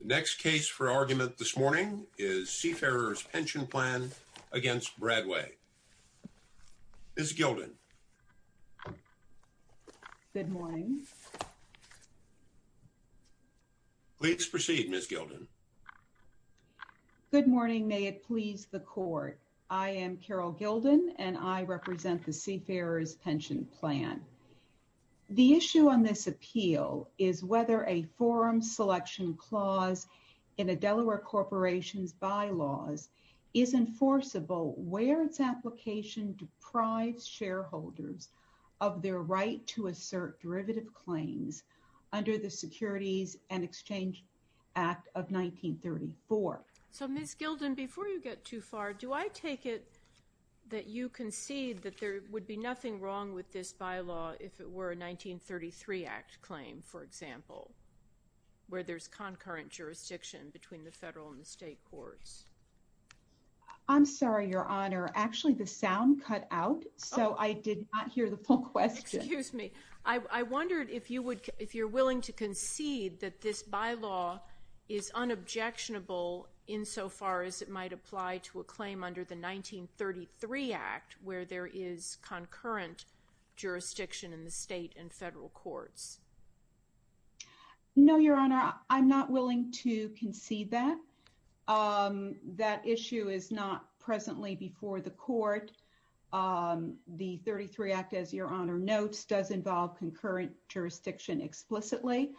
The next case for argument this morning is Seafarers Pension Plan v. Bradway. Ms. Gilden. Good morning. Please proceed, Ms. Gilden. Good morning. May it please the Court. I am Carol Gilden, and I represent the Seafarers Selection Clause in a Delaware corporation's bylaws is enforceable where its application deprives shareholders of their right to assert derivative claims under the Securities and Exchange Act of 1934. So, Ms. Gilden, before you get too far, do I take it that you concede that there would be nothing wrong with this bylaw if it were a 1933 Act claim, for example? Where there's concurrent jurisdiction between the federal and the state courts. I'm sorry, Your Honor. Actually, the sound cut out, so I did not hear the full question. Excuse me. I wondered if you're willing to concede that this bylaw is unobjectionable insofar as it might apply to a claim under the 1933 Act where there is concurrent jurisdiction in the state and federal courts. No, Your Honor. I'm not willing to concede that. That issue is not presently before the Court. The 1933 Act, as Your Honor notes, does involve concurrent jurisdiction explicitly.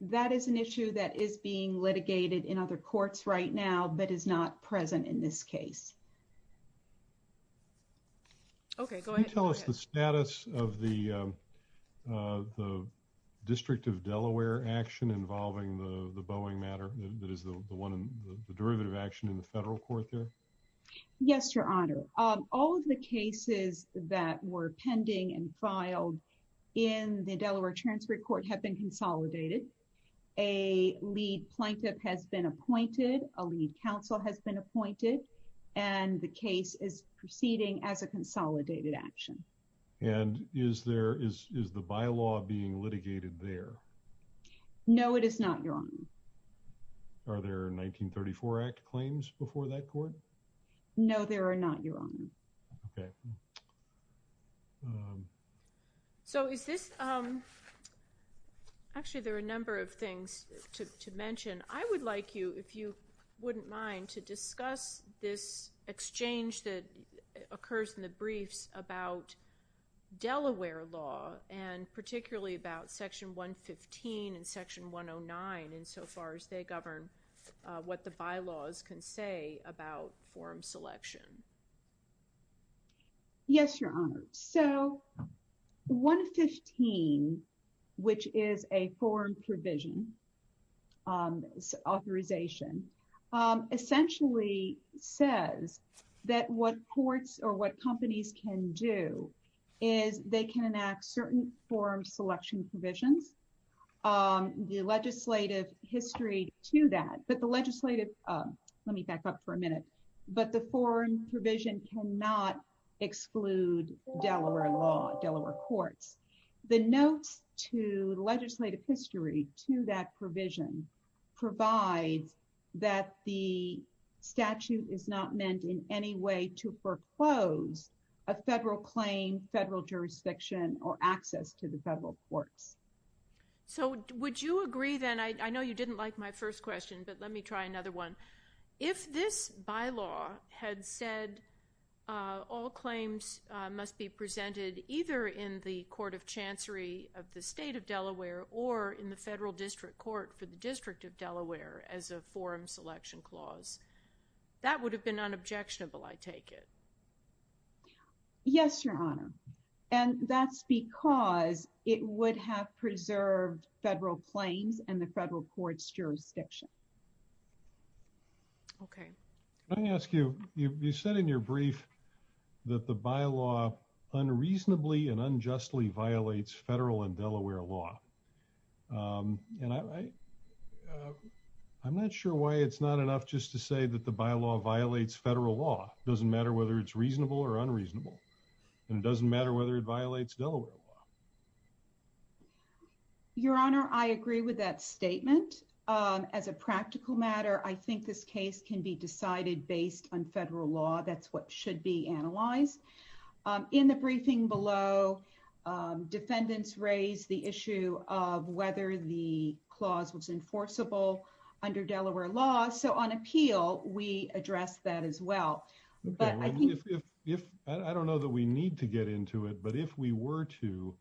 That is an issue that is being litigated in other courts right now, but is not present in this case. Okay. Go ahead. Can you tell us the status of the District of Delaware action involving the Boeing matter that is the one in the derivative action in the federal court there? Yes, Your Honor. All of the cases that were pending and filed in the Delaware Transfer Court have been consolidated. A lead plaintiff has been appointed, a lead counsel has been appointed, and the case is proceeding as a consolidated action. And is the bylaw being litigated there? No, it is not, Your Honor. Are there 1934 Act claims before that court? No, there are not, Your Honor. Okay. So, is this... Actually, there are a number of things to mention. I would like you, if you wouldn't mind, to discuss this exchange that occurs in the briefs about Delaware law and particularly about Section 115 and Section 109 insofar as they govern what the bylaws can say about form selection. Yes, Your Honor. So, 115, which is a form provision authorization, essentially says that what courts or what companies can do is they can enact certain form selection provisions. The legislative history to that, but the legislative... provision cannot exclude Delaware law, Delaware courts. The notes to legislative history to that provision provides that the statute is not meant in any way to foreclose a federal claim, federal jurisdiction, or access to the federal courts. So, would you agree then... I know you didn't like my first question, but let me try another one. If this bylaw had said all claims must be presented either in the Court of Chancery of the State of Delaware or in the Federal District Court for the District of Delaware as a form selection clause, that would have been unobjectionable, I take it? Yes, Your Honor. And that's because it would have preserved federal claims and the federal court's jurisdiction. Okay. Let me ask you, you said in your brief that the bylaw unreasonably and unjustly violates federal and Delaware law, and I'm not sure why it's not enough just to say that the bylaw violates federal law. It doesn't matter whether it's reasonable or unreasonable, and it doesn't matter whether it violates Delaware law. Your Honor, I agree with that statement. As a practical matter, I think this case can be decided based on federal law. That's what should be analyzed. In the briefing below, defendants raised the issue of whether the clause was enforceable under Delaware law. So, on appeal, we address that as well. But I think... I don't know that we need to get into it, but if we were to,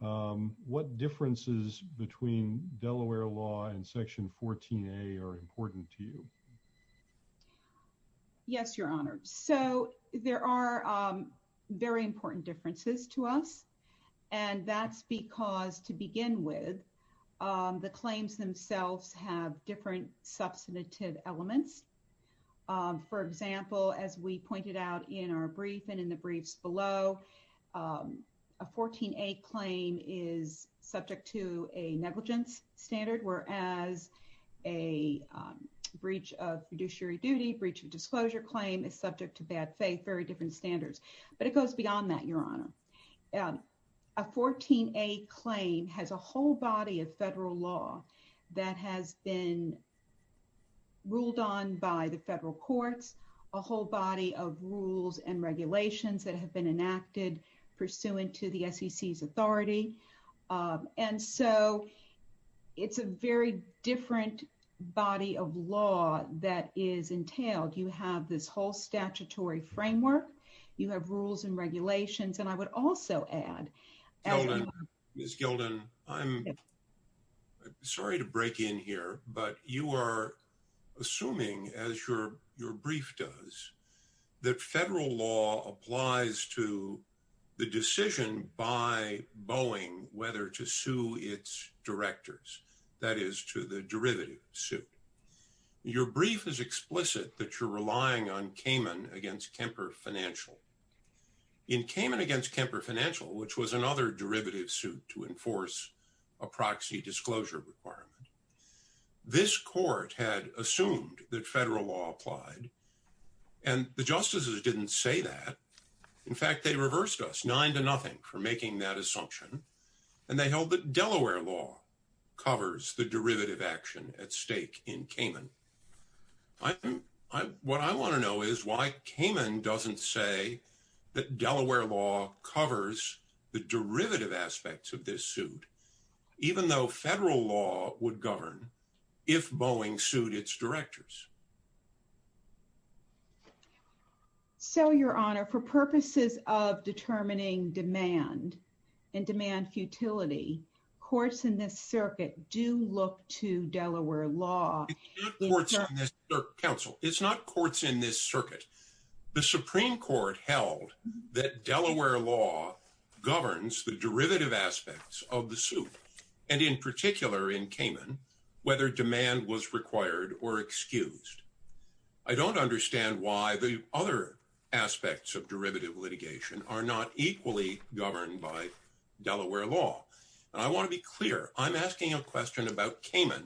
what differences between Delaware law and Section 14a are important to you? Yes, Your Honor. So, there are very important differences to us. And that's because to begin with, the claims themselves have different substantive elements. For example, as we in the briefs below, a 14a claim is subject to a negligence standard, whereas a breach of fiduciary duty, breach of disclosure claim is subject to bad faith, very different standards. But it goes beyond that, Your Honor. A 14a claim has a whole body of federal law that has been enacted pursuant to the SEC's authority. And so, it's a very different body of law that is entailed. You have this whole statutory framework. You have rules and regulations. And I would also add... Ms. Gilden, I'm sorry to break in here, but you are assuming, as your brief does, that federal law applies to the decision by Boeing whether to sue its directors, that is to the derivative suit. Your brief is explicit that you're relying on Kamen against Kemper Financial. In Kamen against Kemper Financial, which was another derivative suit to enforce a proxy disclosure requirement, this court had assumed that federal law applied and the justices didn't say that. In fact, they reversed us nine to nothing for making that assumption. And they held that Delaware law covers the derivative action at stake in Kamen. What I want to know is why Kamen doesn't say that Delaware law covers the derivative aspects of this suit, even though federal law would govern if Boeing sued its directors. So, Your Honor, for purposes of determining demand and demand futility, courts in this circuit do look to Delaware law. It's not courts in this circuit, counsel. It's not courts in this circuit. The Supreme Court held that Delaware law governs the derivative aspects of the suit, and in particular in Kamen, whether demand was required or excused. I don't understand why the other aspects of derivative litigation are not equally governed by Delaware law. And I want to be clear, I'm asking a question about Kamen,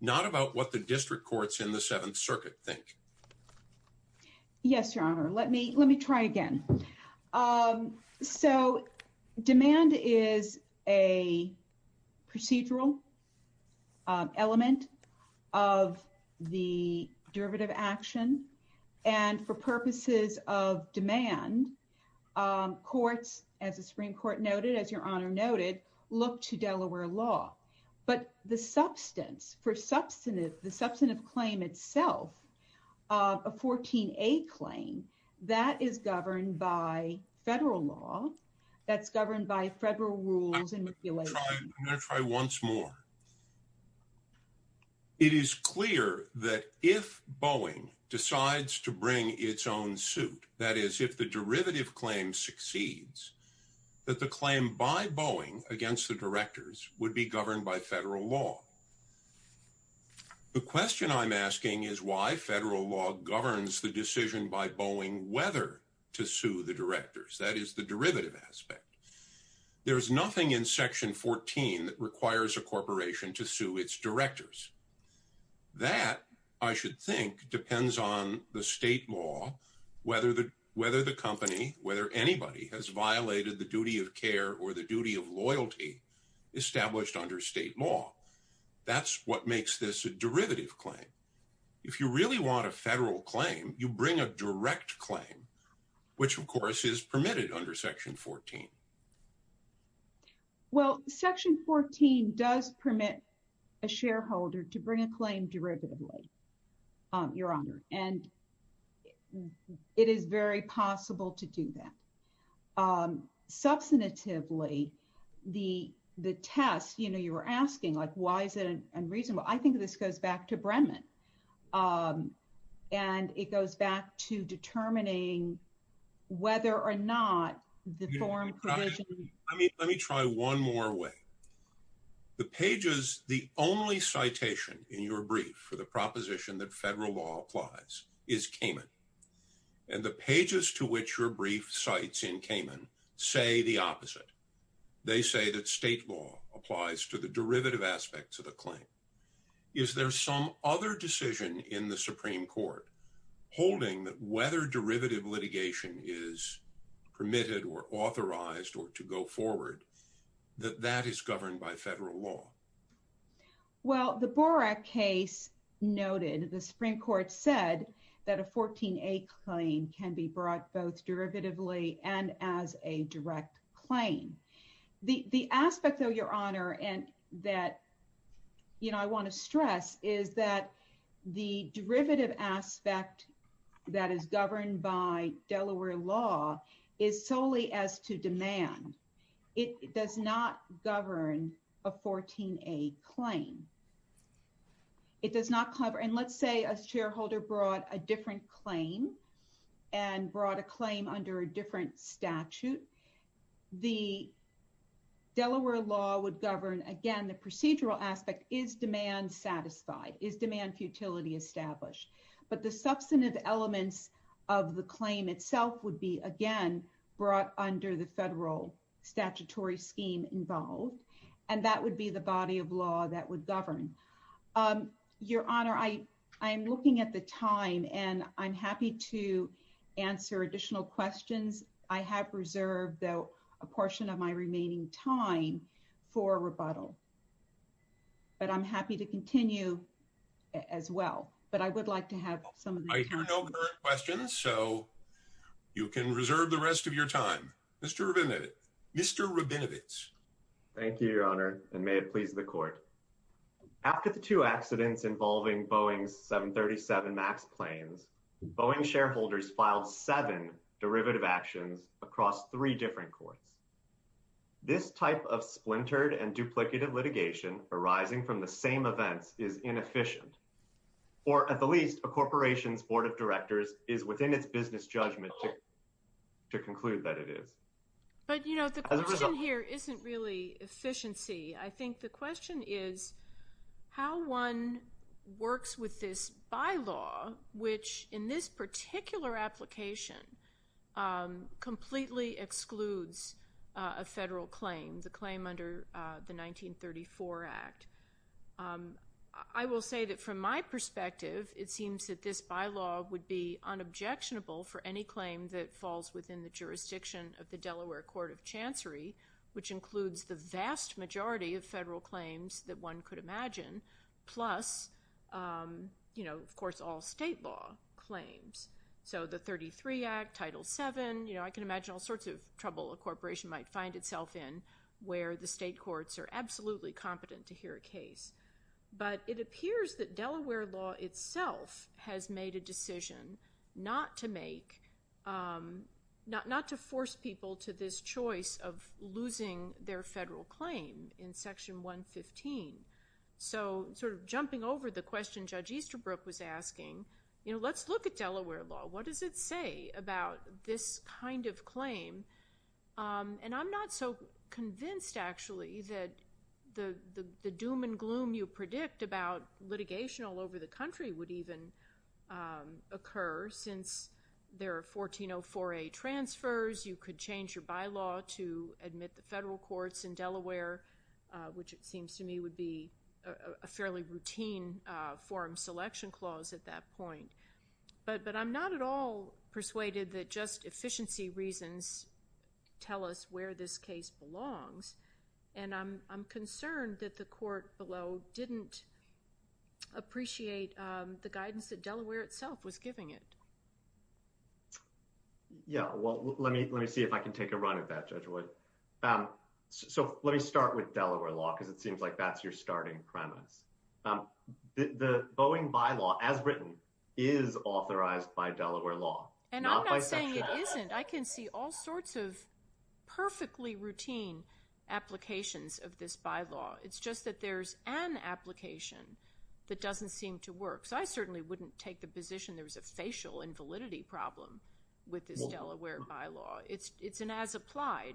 not about what the district courts in the Seventh Circuit think. Yes, Your Honor. Let me try again. So, demand is a procedural element of the derivative action. And for purposes of demand, courts, as the Supreme Court noted, as Your Honor noted, look to Delaware law. But the substance, the substantive claim itself, a 14A claim, that is governed by federal law, that's governed by federal rules and regulations. I'm going to try once more. It is clear that if Boeing decides to bring its own suit, that is if the derivative claim succeeds, that the claim by Boeing against the directors would be governed by federal law. The question I'm asking is why federal law governs the decision by Boeing whether to sue the directors, that is the derivative aspect. There's nothing in Section 14 that requires a corporation to sue its directors. That, I should think, depends on the state law, whether the company, whether anybody has violated the duty of care or the duty of loyalty established under state law. That's what makes this a derivative claim. If you really want a federal claim, you bring a direct claim, which of course is permitted under Section 14. Well, Section 14 does permit a shareholder to bring a claim derivatively, Your Honor. And it is very possible to do that. Substantively, the test, you know, you were asking, like, why is it unreasonable? I think this goes back to Brennan. And it goes back to determining whether or not the form provision... Let me try one more way. The pages, the only citation in your brief for the proposition that federal law applies is Cayman. And the pages to which your brief cites in Cayman say the opposite. They say that state law applies to the derivative aspects of the claim. Is there some other decision in the Supreme Court holding that whether derivative litigation is permitted or authorized or to go forward, that that is governed by federal law? Well, the Borak case noted, the Supreme Court said that a 14A claim can be brought both derivatively and as a direct claim. The aspect, though, Your Honor, and that, you know, I want to stress is that the derivative aspect that is governed by Delaware law is solely as to demand. It does not govern a 14A claim. It does not cover... And let's say a shareholder brought a different claim and brought a claim under a different statute. The Delaware law would govern, again, the procedural aspect. Is demand satisfied? Is demand futility established? But the substantive elements of the claim itself would be, again, brought under the federal statutory scheme involved. And that would be the body of law that would govern. Your Honor, I am looking at the time and I'm happy to answer additional questions. I have reserved, though, a portion of my remaining time for rebuttal. But I'm happy to continue as well. But I would like to have some... I hear no current questions, so you can reserve the rest of your time. Mr. Rabinowitz. Thank you, Your Honor, and may it please the court. After the two accidents involving Boeing's 737 MAX planes, Boeing shareholders filed seven derivative actions across three different courts. This type of splintered and duplicative litigation arising from the same events is inefficient. Or at the least, a corporation's board of directors is within its business judgment to conclude that it is. But, you know, the question here isn't really efficiency. I think the question is how one works with this bylaw, which in this particular application completely excludes a federal claim, the claim under the 1934 Act. I will say that, from my perspective, it seems that this bylaw would be unobjectionable for any claim that falls within the jurisdiction of the Delaware Court of Chancery, which includes the vast majority of federal claims that one could imagine, plus, you know, of course, all state law claims. So the 33 Act, Title VII, you know, I can imagine all sorts of trouble a corporation might find itself in where the state courts are absolutely competent to hear a case. But it appears that Delaware law itself has made a decision not to make, not to force people to this choice of losing their federal claim in Section 115. So sort of jumping over the question Judge Easterbrook was asking, you know, let's look at Delaware law. What does it say about this kind of claim? And I'm not so convinced, actually, that the doom and gloom you predict about litigation all over the country would even occur since there are 1404A transfers. You could change your bylaw to admit the federal courts in Delaware, which it seems to me would be a fairly routine forum selection clause at that point. But I'm not at all persuaded that just efficiency reasons tell us where this case belongs. And I'm concerned that the court below didn't appreciate the guidance that Delaware itself was giving it. Yeah, well, let me see if I can take a run at that, Judge Wood. So let me start with Delaware law because it seems like that's your starting premise. The Boeing bylaw, as written, is authorized by Delaware law. And I'm not saying it isn't. I can see all sorts of perfectly routine applications of this bylaw. It's just that there's an application that doesn't seem to work. So I certainly wouldn't take the position there was a facial invalidity problem with this Delaware bylaw. It's an as-applied.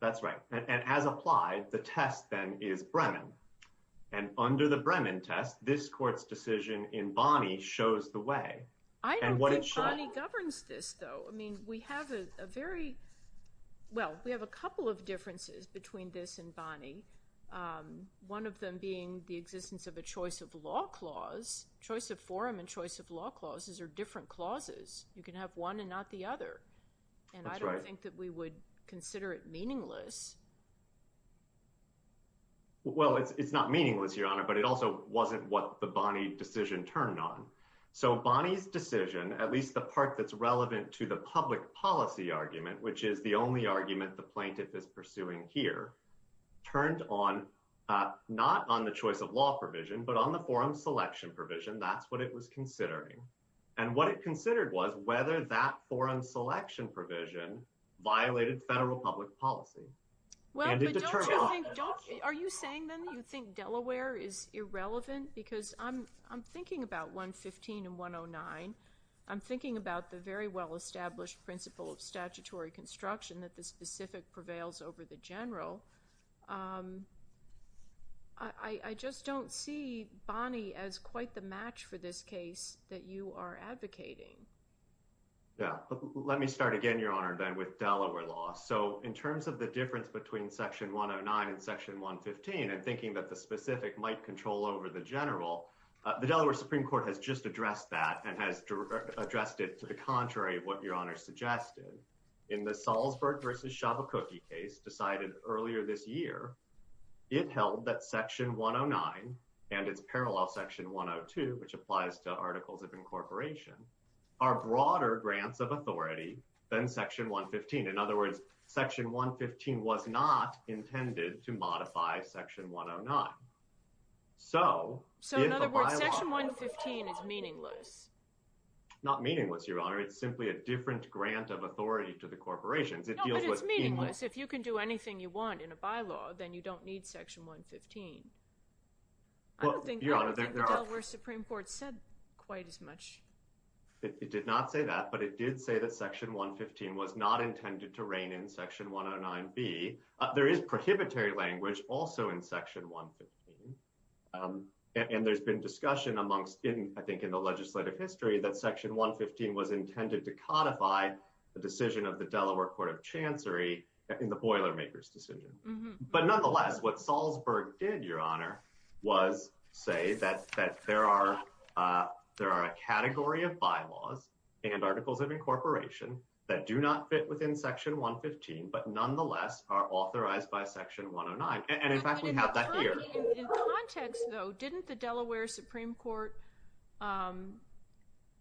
That's right. And as-applied, the test then is Bremen. And under the Bremen test, this court's decision in Bonnie shows the way. I don't think Bonnie governs this, though. I mean, we have a very, well, we have a couple of differences between this and Bonnie, one of them being the existence of a choice of law clause, choice of forum and choice of law clauses are different clauses. You can have one and not the other. And I don't think that we would consider it meaningless. Well, it's not meaningless, Your Honor, but it also wasn't what the Bonnie decision turned on. So Bonnie's decision, at least the part that's relevant to the public policy argument, which is the only argument the court is pursuing here, turned on, not on the choice of law provision, but on the forum selection provision. That's what it was considering. And what it considered was whether that forum selection provision violated federal public policy. Are you saying then you think Delaware is irrelevant? Because I'm thinking about 115 and 109. I'm thinking about the very well-established principle of statutory construction that the specific prevails over the general. I just don't see Bonnie as quite the match for this case that you are advocating. Yeah, let me start again, Your Honor, then with Delaware law. So in terms of the difference between section 109 and section 115, and thinking that the specific might control over the general, the Delaware Supreme Court has just suggested in the Salzburg versus Shabacookie case decided earlier this year, it held that section 109 and its parallel section 102, which applies to articles of incorporation, are broader grants of authority than section 115. In other words, section 115 was not intended to modify section 109. So in other words, section 115 is meaningless. Not meaningless, Your Honor. It's simply a different grant of authority to the corporations. No, but it's meaningless. If you can do anything you want in a bylaw, then you don't need section 115. I don't think Delaware Supreme Court said quite as much. It did not say that, but it did say that section 115 was not intended to rein in section 109B. There is prohibitory language also in section 115. And there's been discussion amongst, I think, in the legislative history that section 115 was intended to codify the decision of the Delaware Court of Chancery in the Boilermakers decision. But nonetheless, what Salzburg did, Your Honor, was say that there are a category of bylaws and articles of incorporation that do not fit within section 115, but nonetheless are authorized by section 109. And in fact, we have that here. In context, though, didn't the Delaware Supreme Court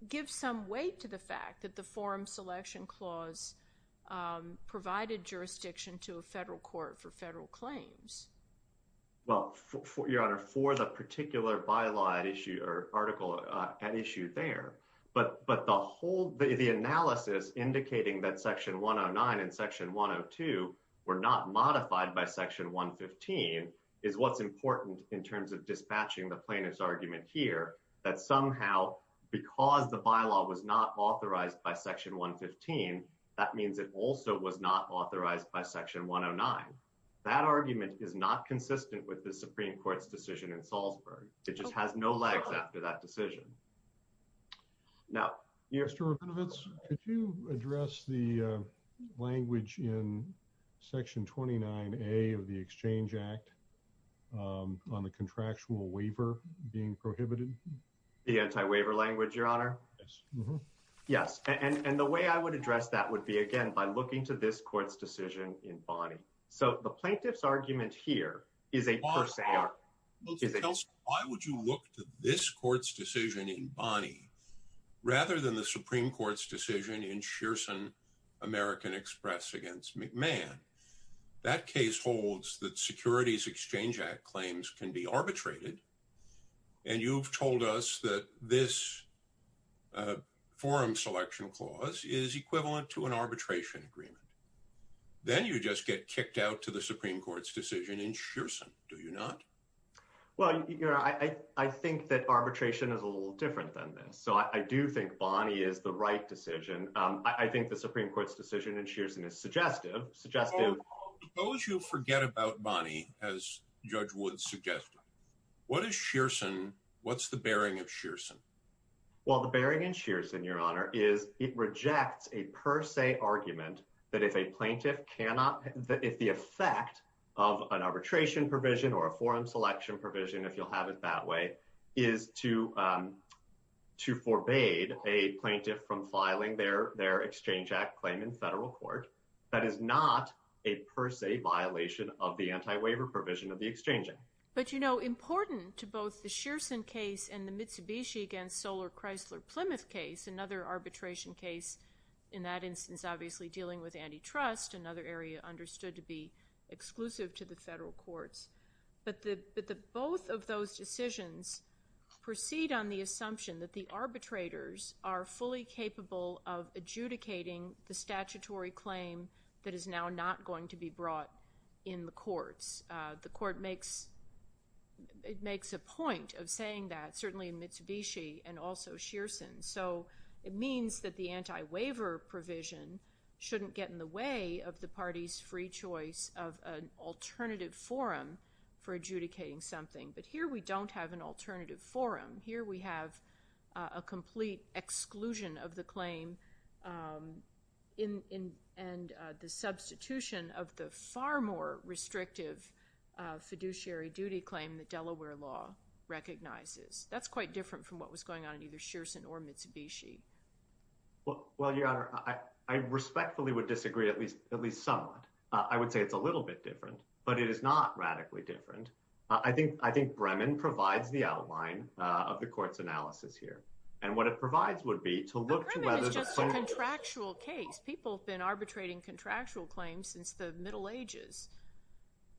give some weight to the fact that the Forum Selection Clause provided jurisdiction to a federal court for federal claims? Well, Your Honor, for the particular bylaw at issue or article at issue there, but the analysis indicating that section 109 and section 102 were not modified by section 115 is what's important in terms of dispatching the plaintiff's argument here that somehow because the bylaw was not authorized by section 115, that means it also was not authorized by section 109. That argument is not consistent with the Supreme Court's decision in Salzburg. It just has no legs after that decision. Now, Mr. Rabinowitz, could you address the language in section 29A of the Exchange Act on the contractual waiver being prohibited? The anti-waiver language, Your Honor? Yes. And the way I would address that would be, again, by looking to this court's decision in Bonney. So the plaintiff's argument here is a per se argument. Why would you look to this court's decision in Bonney rather than the Supreme Court's decision in Shearson American Express against McMahon? That case holds that Securities Exchange Act claims can be arbitrated. And you've told us that this forum selection clause is equivalent to an arbitration agreement. Then you just get kicked out to the Supreme Court's decision in Shearson, do you not? Well, Your Honor, I think that arbitration is a little different than this. So I do think Bonney is the right decision. I think the Supreme Court's decision in Shearson is suggestive. Suppose you forget about Bonney, as Judge Wood suggested. What's the bearing of Shearson? Well, the bearing in Shearson, Your Honor, is it rejects a per se argument that if the effect of an arbitration provision or a forum selection provision, if you'll have it that way, is to forbade a plaintiff from filing their Exchange Act claim in federal court. That is not a per se violation of the anti-waiver provision of the exchanging. But, you know, important to both the Shearson case and the Mitsubishi against Soler-Chrysler-Plymouth case, another arbitration case, in that instance, obviously dealing with antitrust, another area understood to be exclusive to the federal courts. But the both of those decisions proceed on the assumption that the arbitrators are fully capable of adjudicating the statutory claim that is now not going to be brought in the courts. The court makes a point of saying that, certainly in Mitsubishi and also Shearson. So it means that the anti-waiver provision shouldn't get in the way of the party's free choice of an alternative forum for adjudicating something. But here we don't have an alternative forum. Here we have a complete exclusion of the claim and the substitution of the far more restrictive fiduciary duty claim that Delaware law recognizes. That's quite different from what was going on in either Shearson or Mitsubishi. Well, Your Honor, I respectfully would disagree at least somewhat. I would say it's a little bit different. I think Bremen provides the outline of the court's analysis here. And what it provides would be to look to whether— Bremen is just a contractual case. People have been arbitrating contractual claims since the Middle Ages.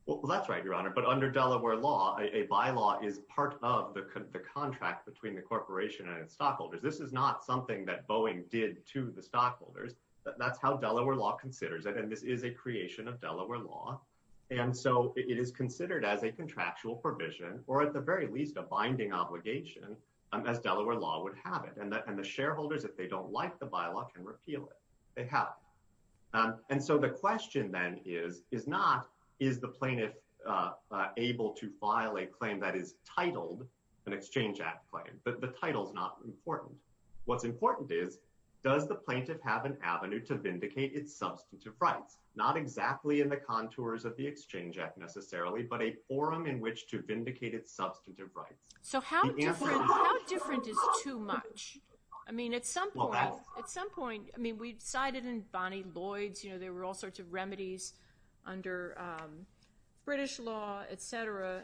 Well, that's right, Your Honor. But under Delaware law, a bylaw is part of the contract between the corporation and its stockholders. This is not something that Boeing did to the stockholders. That's how Delaware law considers it. And this is a creation of Delaware law. And so it is considered as a contractual provision, or at the very least a binding obligation, as Delaware law would have it. And the shareholders, if they don't like the bylaw, can repeal it. They have it. And so the question then is not, is the plaintiff able to file a claim that is titled an Exchange Act claim? The title's not important. What's important is, does the plaintiff have an avenue to vindicate its substantive rights? Not exactly in the contours of the Exchange Act necessarily, but a forum in which to vindicate its substantive rights. So how different is too much? I mean, at some point, at some point, I mean, we cited in Bonnie Lloyd's, you know, there were all sorts of remedies under British law, etc.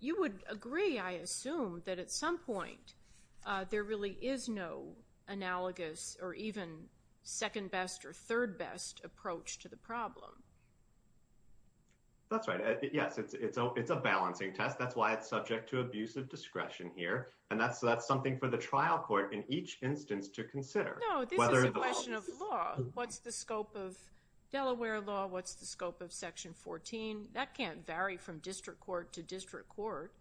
You would agree, I assume, that at some point, there really is no analogous or even second best or third best approach to the problem. That's right. Yes, it's a balancing test. That's why it's subject to abusive discretion here. And that's something for the trial court in each instance to consider. No, this is a question of law. What's the scope of Delaware law? What's the scope of Section 14? That can't vary from district court to district court.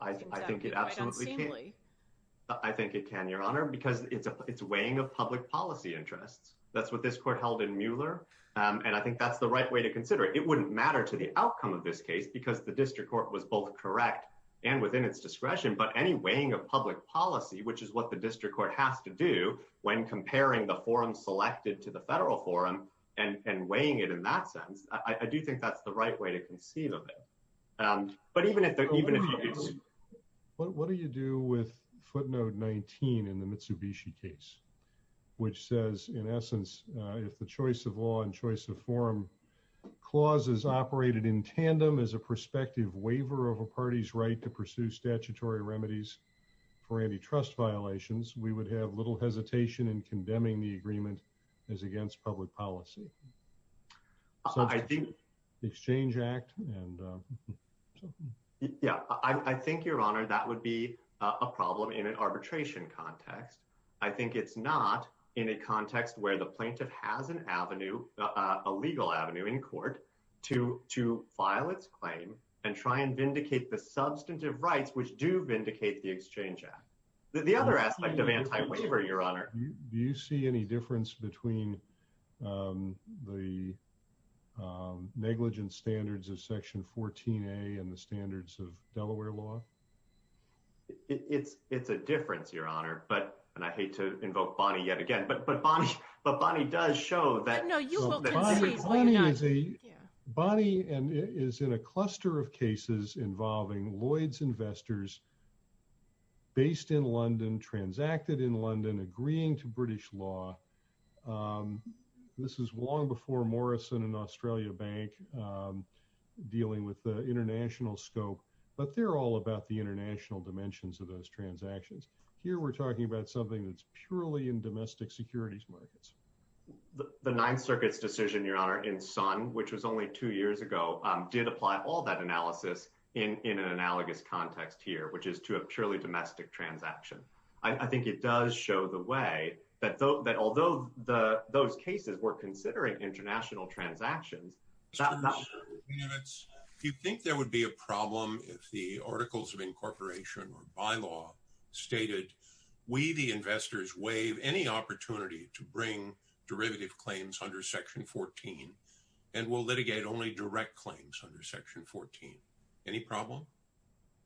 I think it absolutely can. I think it can, Your Honor, because it's a weighing of public policy interests. That's what this court held in Mueller. And I think that's the right way to consider it. It wouldn't matter to the outcome of this case because the district court was both correct and within its discretion. But any weighing of public policy, which is what the district court has to do when comparing the forum selected to federal forum, and weighing it in that sense, I do think that's the right way to conceive of it. What do you do with footnote 19 in the Mitsubishi case, which says, in essence, if the choice of law and choice of forum clauses operated in tandem as a prospective waiver of a party's right to pursue statutory remedies for antitrust violations, we would have little hesitation in condemning the agreement as against public policy. I think the Exchange Act and Yeah, I think, Your Honor, that would be a problem in an arbitration context. I think it's not in a context where the plaintiff has an avenue, a legal avenue in court to to file its claim and try and vindicate the substantive rights which do vindicate the Exchange Act. The other aspect of anti-waiver, Your Honor. Do you see any difference between the negligence standards of Section 14a and the standards of Delaware law? It's a difference, Your Honor, but, and I hate to invoke Bonnie yet again, but Bonnie does show that. Bonnie is in a cluster of cases involving Lloyd's investors based in London, transacted in London, agreeing to British law. This is long before Morrison and Australia Bank dealing with the international scope, but they're all about the international dimensions of those transactions. Here we're talking about something that's purely in domestic securities markets. The Ninth Circuit's decision, Your Honor, in Sun, which was only two years ago, did apply all that analysis in an analogous context here, which is to a purely domestic transaction. I think it does show the way that although those cases were considering international transactions. You think there would be a problem if the Articles of Incorporation or bylaw stated, we, the investors, waive any opportunity to bring derivative claims under Section 14, and we'll litigate only direct claims under Section 14. Any problem?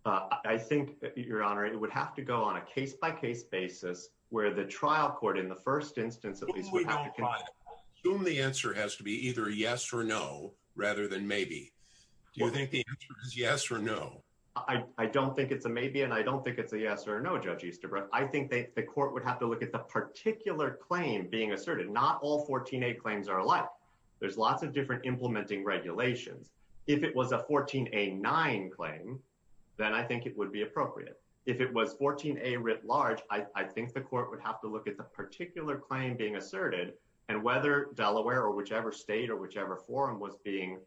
I think, Your Honor, it would have to go on a case-by-case basis where the trial court in the first instance, at least, would have to... Assume the answer has to be either yes or no, rather than maybe. Do you think the answer is yes or no? I don't think it's a maybe, and I don't think it's a yes or no, Judge Easterbrook. I think the court would have to look at the particular claim being asserted. Not all 14a claims are like. There's lots of different implementing regulations. If it was a 14a9 claim, then I think it would be appropriate. If it was 14a writ large, I think the court would have to look at the particular claim being asserted, and whether Delaware or whichever state or whichever forum was being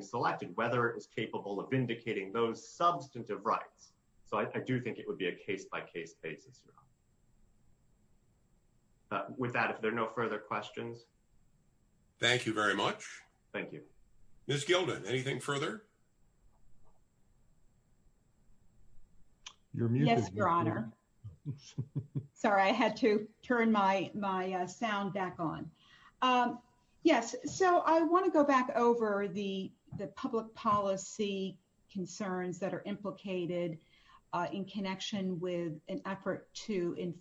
selected, whether it was capable of vindicating those substantive rights. So I do think it would be a case-by-case basis, Your Honor. With that, if there are no further questions. Thank you very much. Thank you. Ms. Gildan, anything further? Yes, Your Honor. Sorry, I had to turn my sound back on. Yes, so I want to go back over the enforcement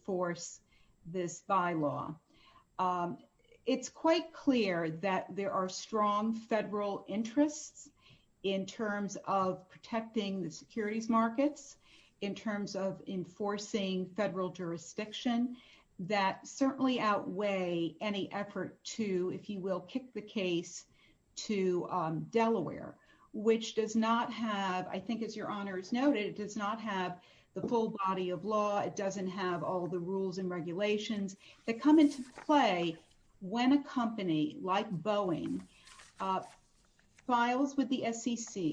of this bylaw. It's quite clear that there are strong federal interests in terms of protecting the securities markets, in terms of enforcing federal jurisdiction, that certainly outweigh any effort to, if you will, kick the case to Delaware, which does not have, I think, all the rules and regulations that come into play when a company like Boeing files with the SEC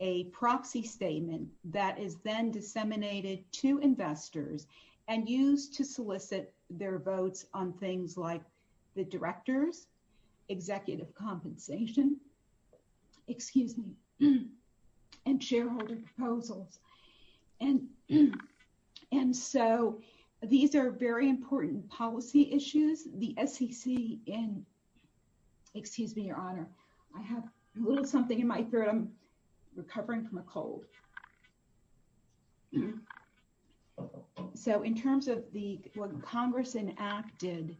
a proxy statement that is then disseminated to investors and used to solicit their votes on things like the director's executive compensation, excuse me, and shareholder proposals. And so these are very important policy issues. The SEC in, excuse me, Your Honor, I have a little something in my throat. I'm recovering from a cold. So in terms of what Congress enacted,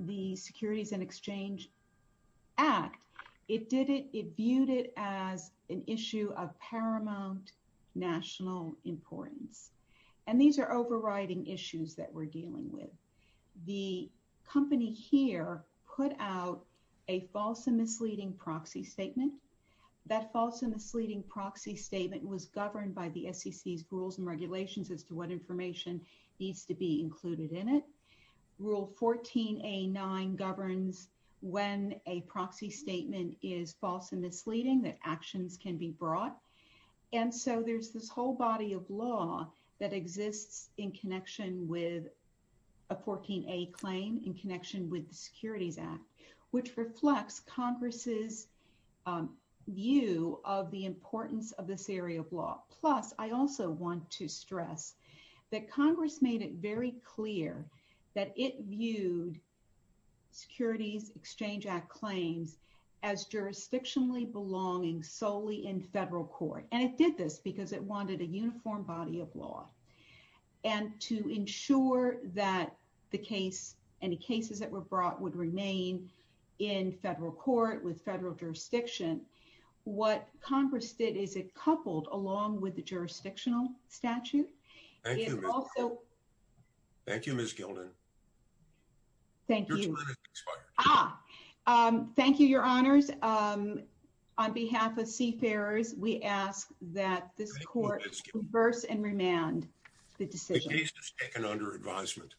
the Securities and Exchange Act, it did it, viewed it as an issue of paramount national importance. And these are overriding issues that we're dealing with. The company here put out a false and misleading proxy statement. That false and misleading proxy statement was governed by the SEC's rules and regulations as to what information needs to be included in it. Rule 14A9 governs when a proxy statement is false and misleading, that actions can be brought. And so there's this whole body of law that exists in connection with a 14A claim in connection with the Securities Act, which reflects Congress's view of the importance of this area of law. Plus, I also want to stress that Congress made it very clear that it viewed Securities Exchange Act claims as jurisdictionally belonging solely in federal court. And it did this because it wanted a uniform body of law. And to ensure that the case, any cases that were brought would remain in federal court with Thank you. Thank you, Ms. Gildan. Thank you, your honors. On behalf of Seafarers, we ask that this court reverse and remand the decision. The case is taken under advisement.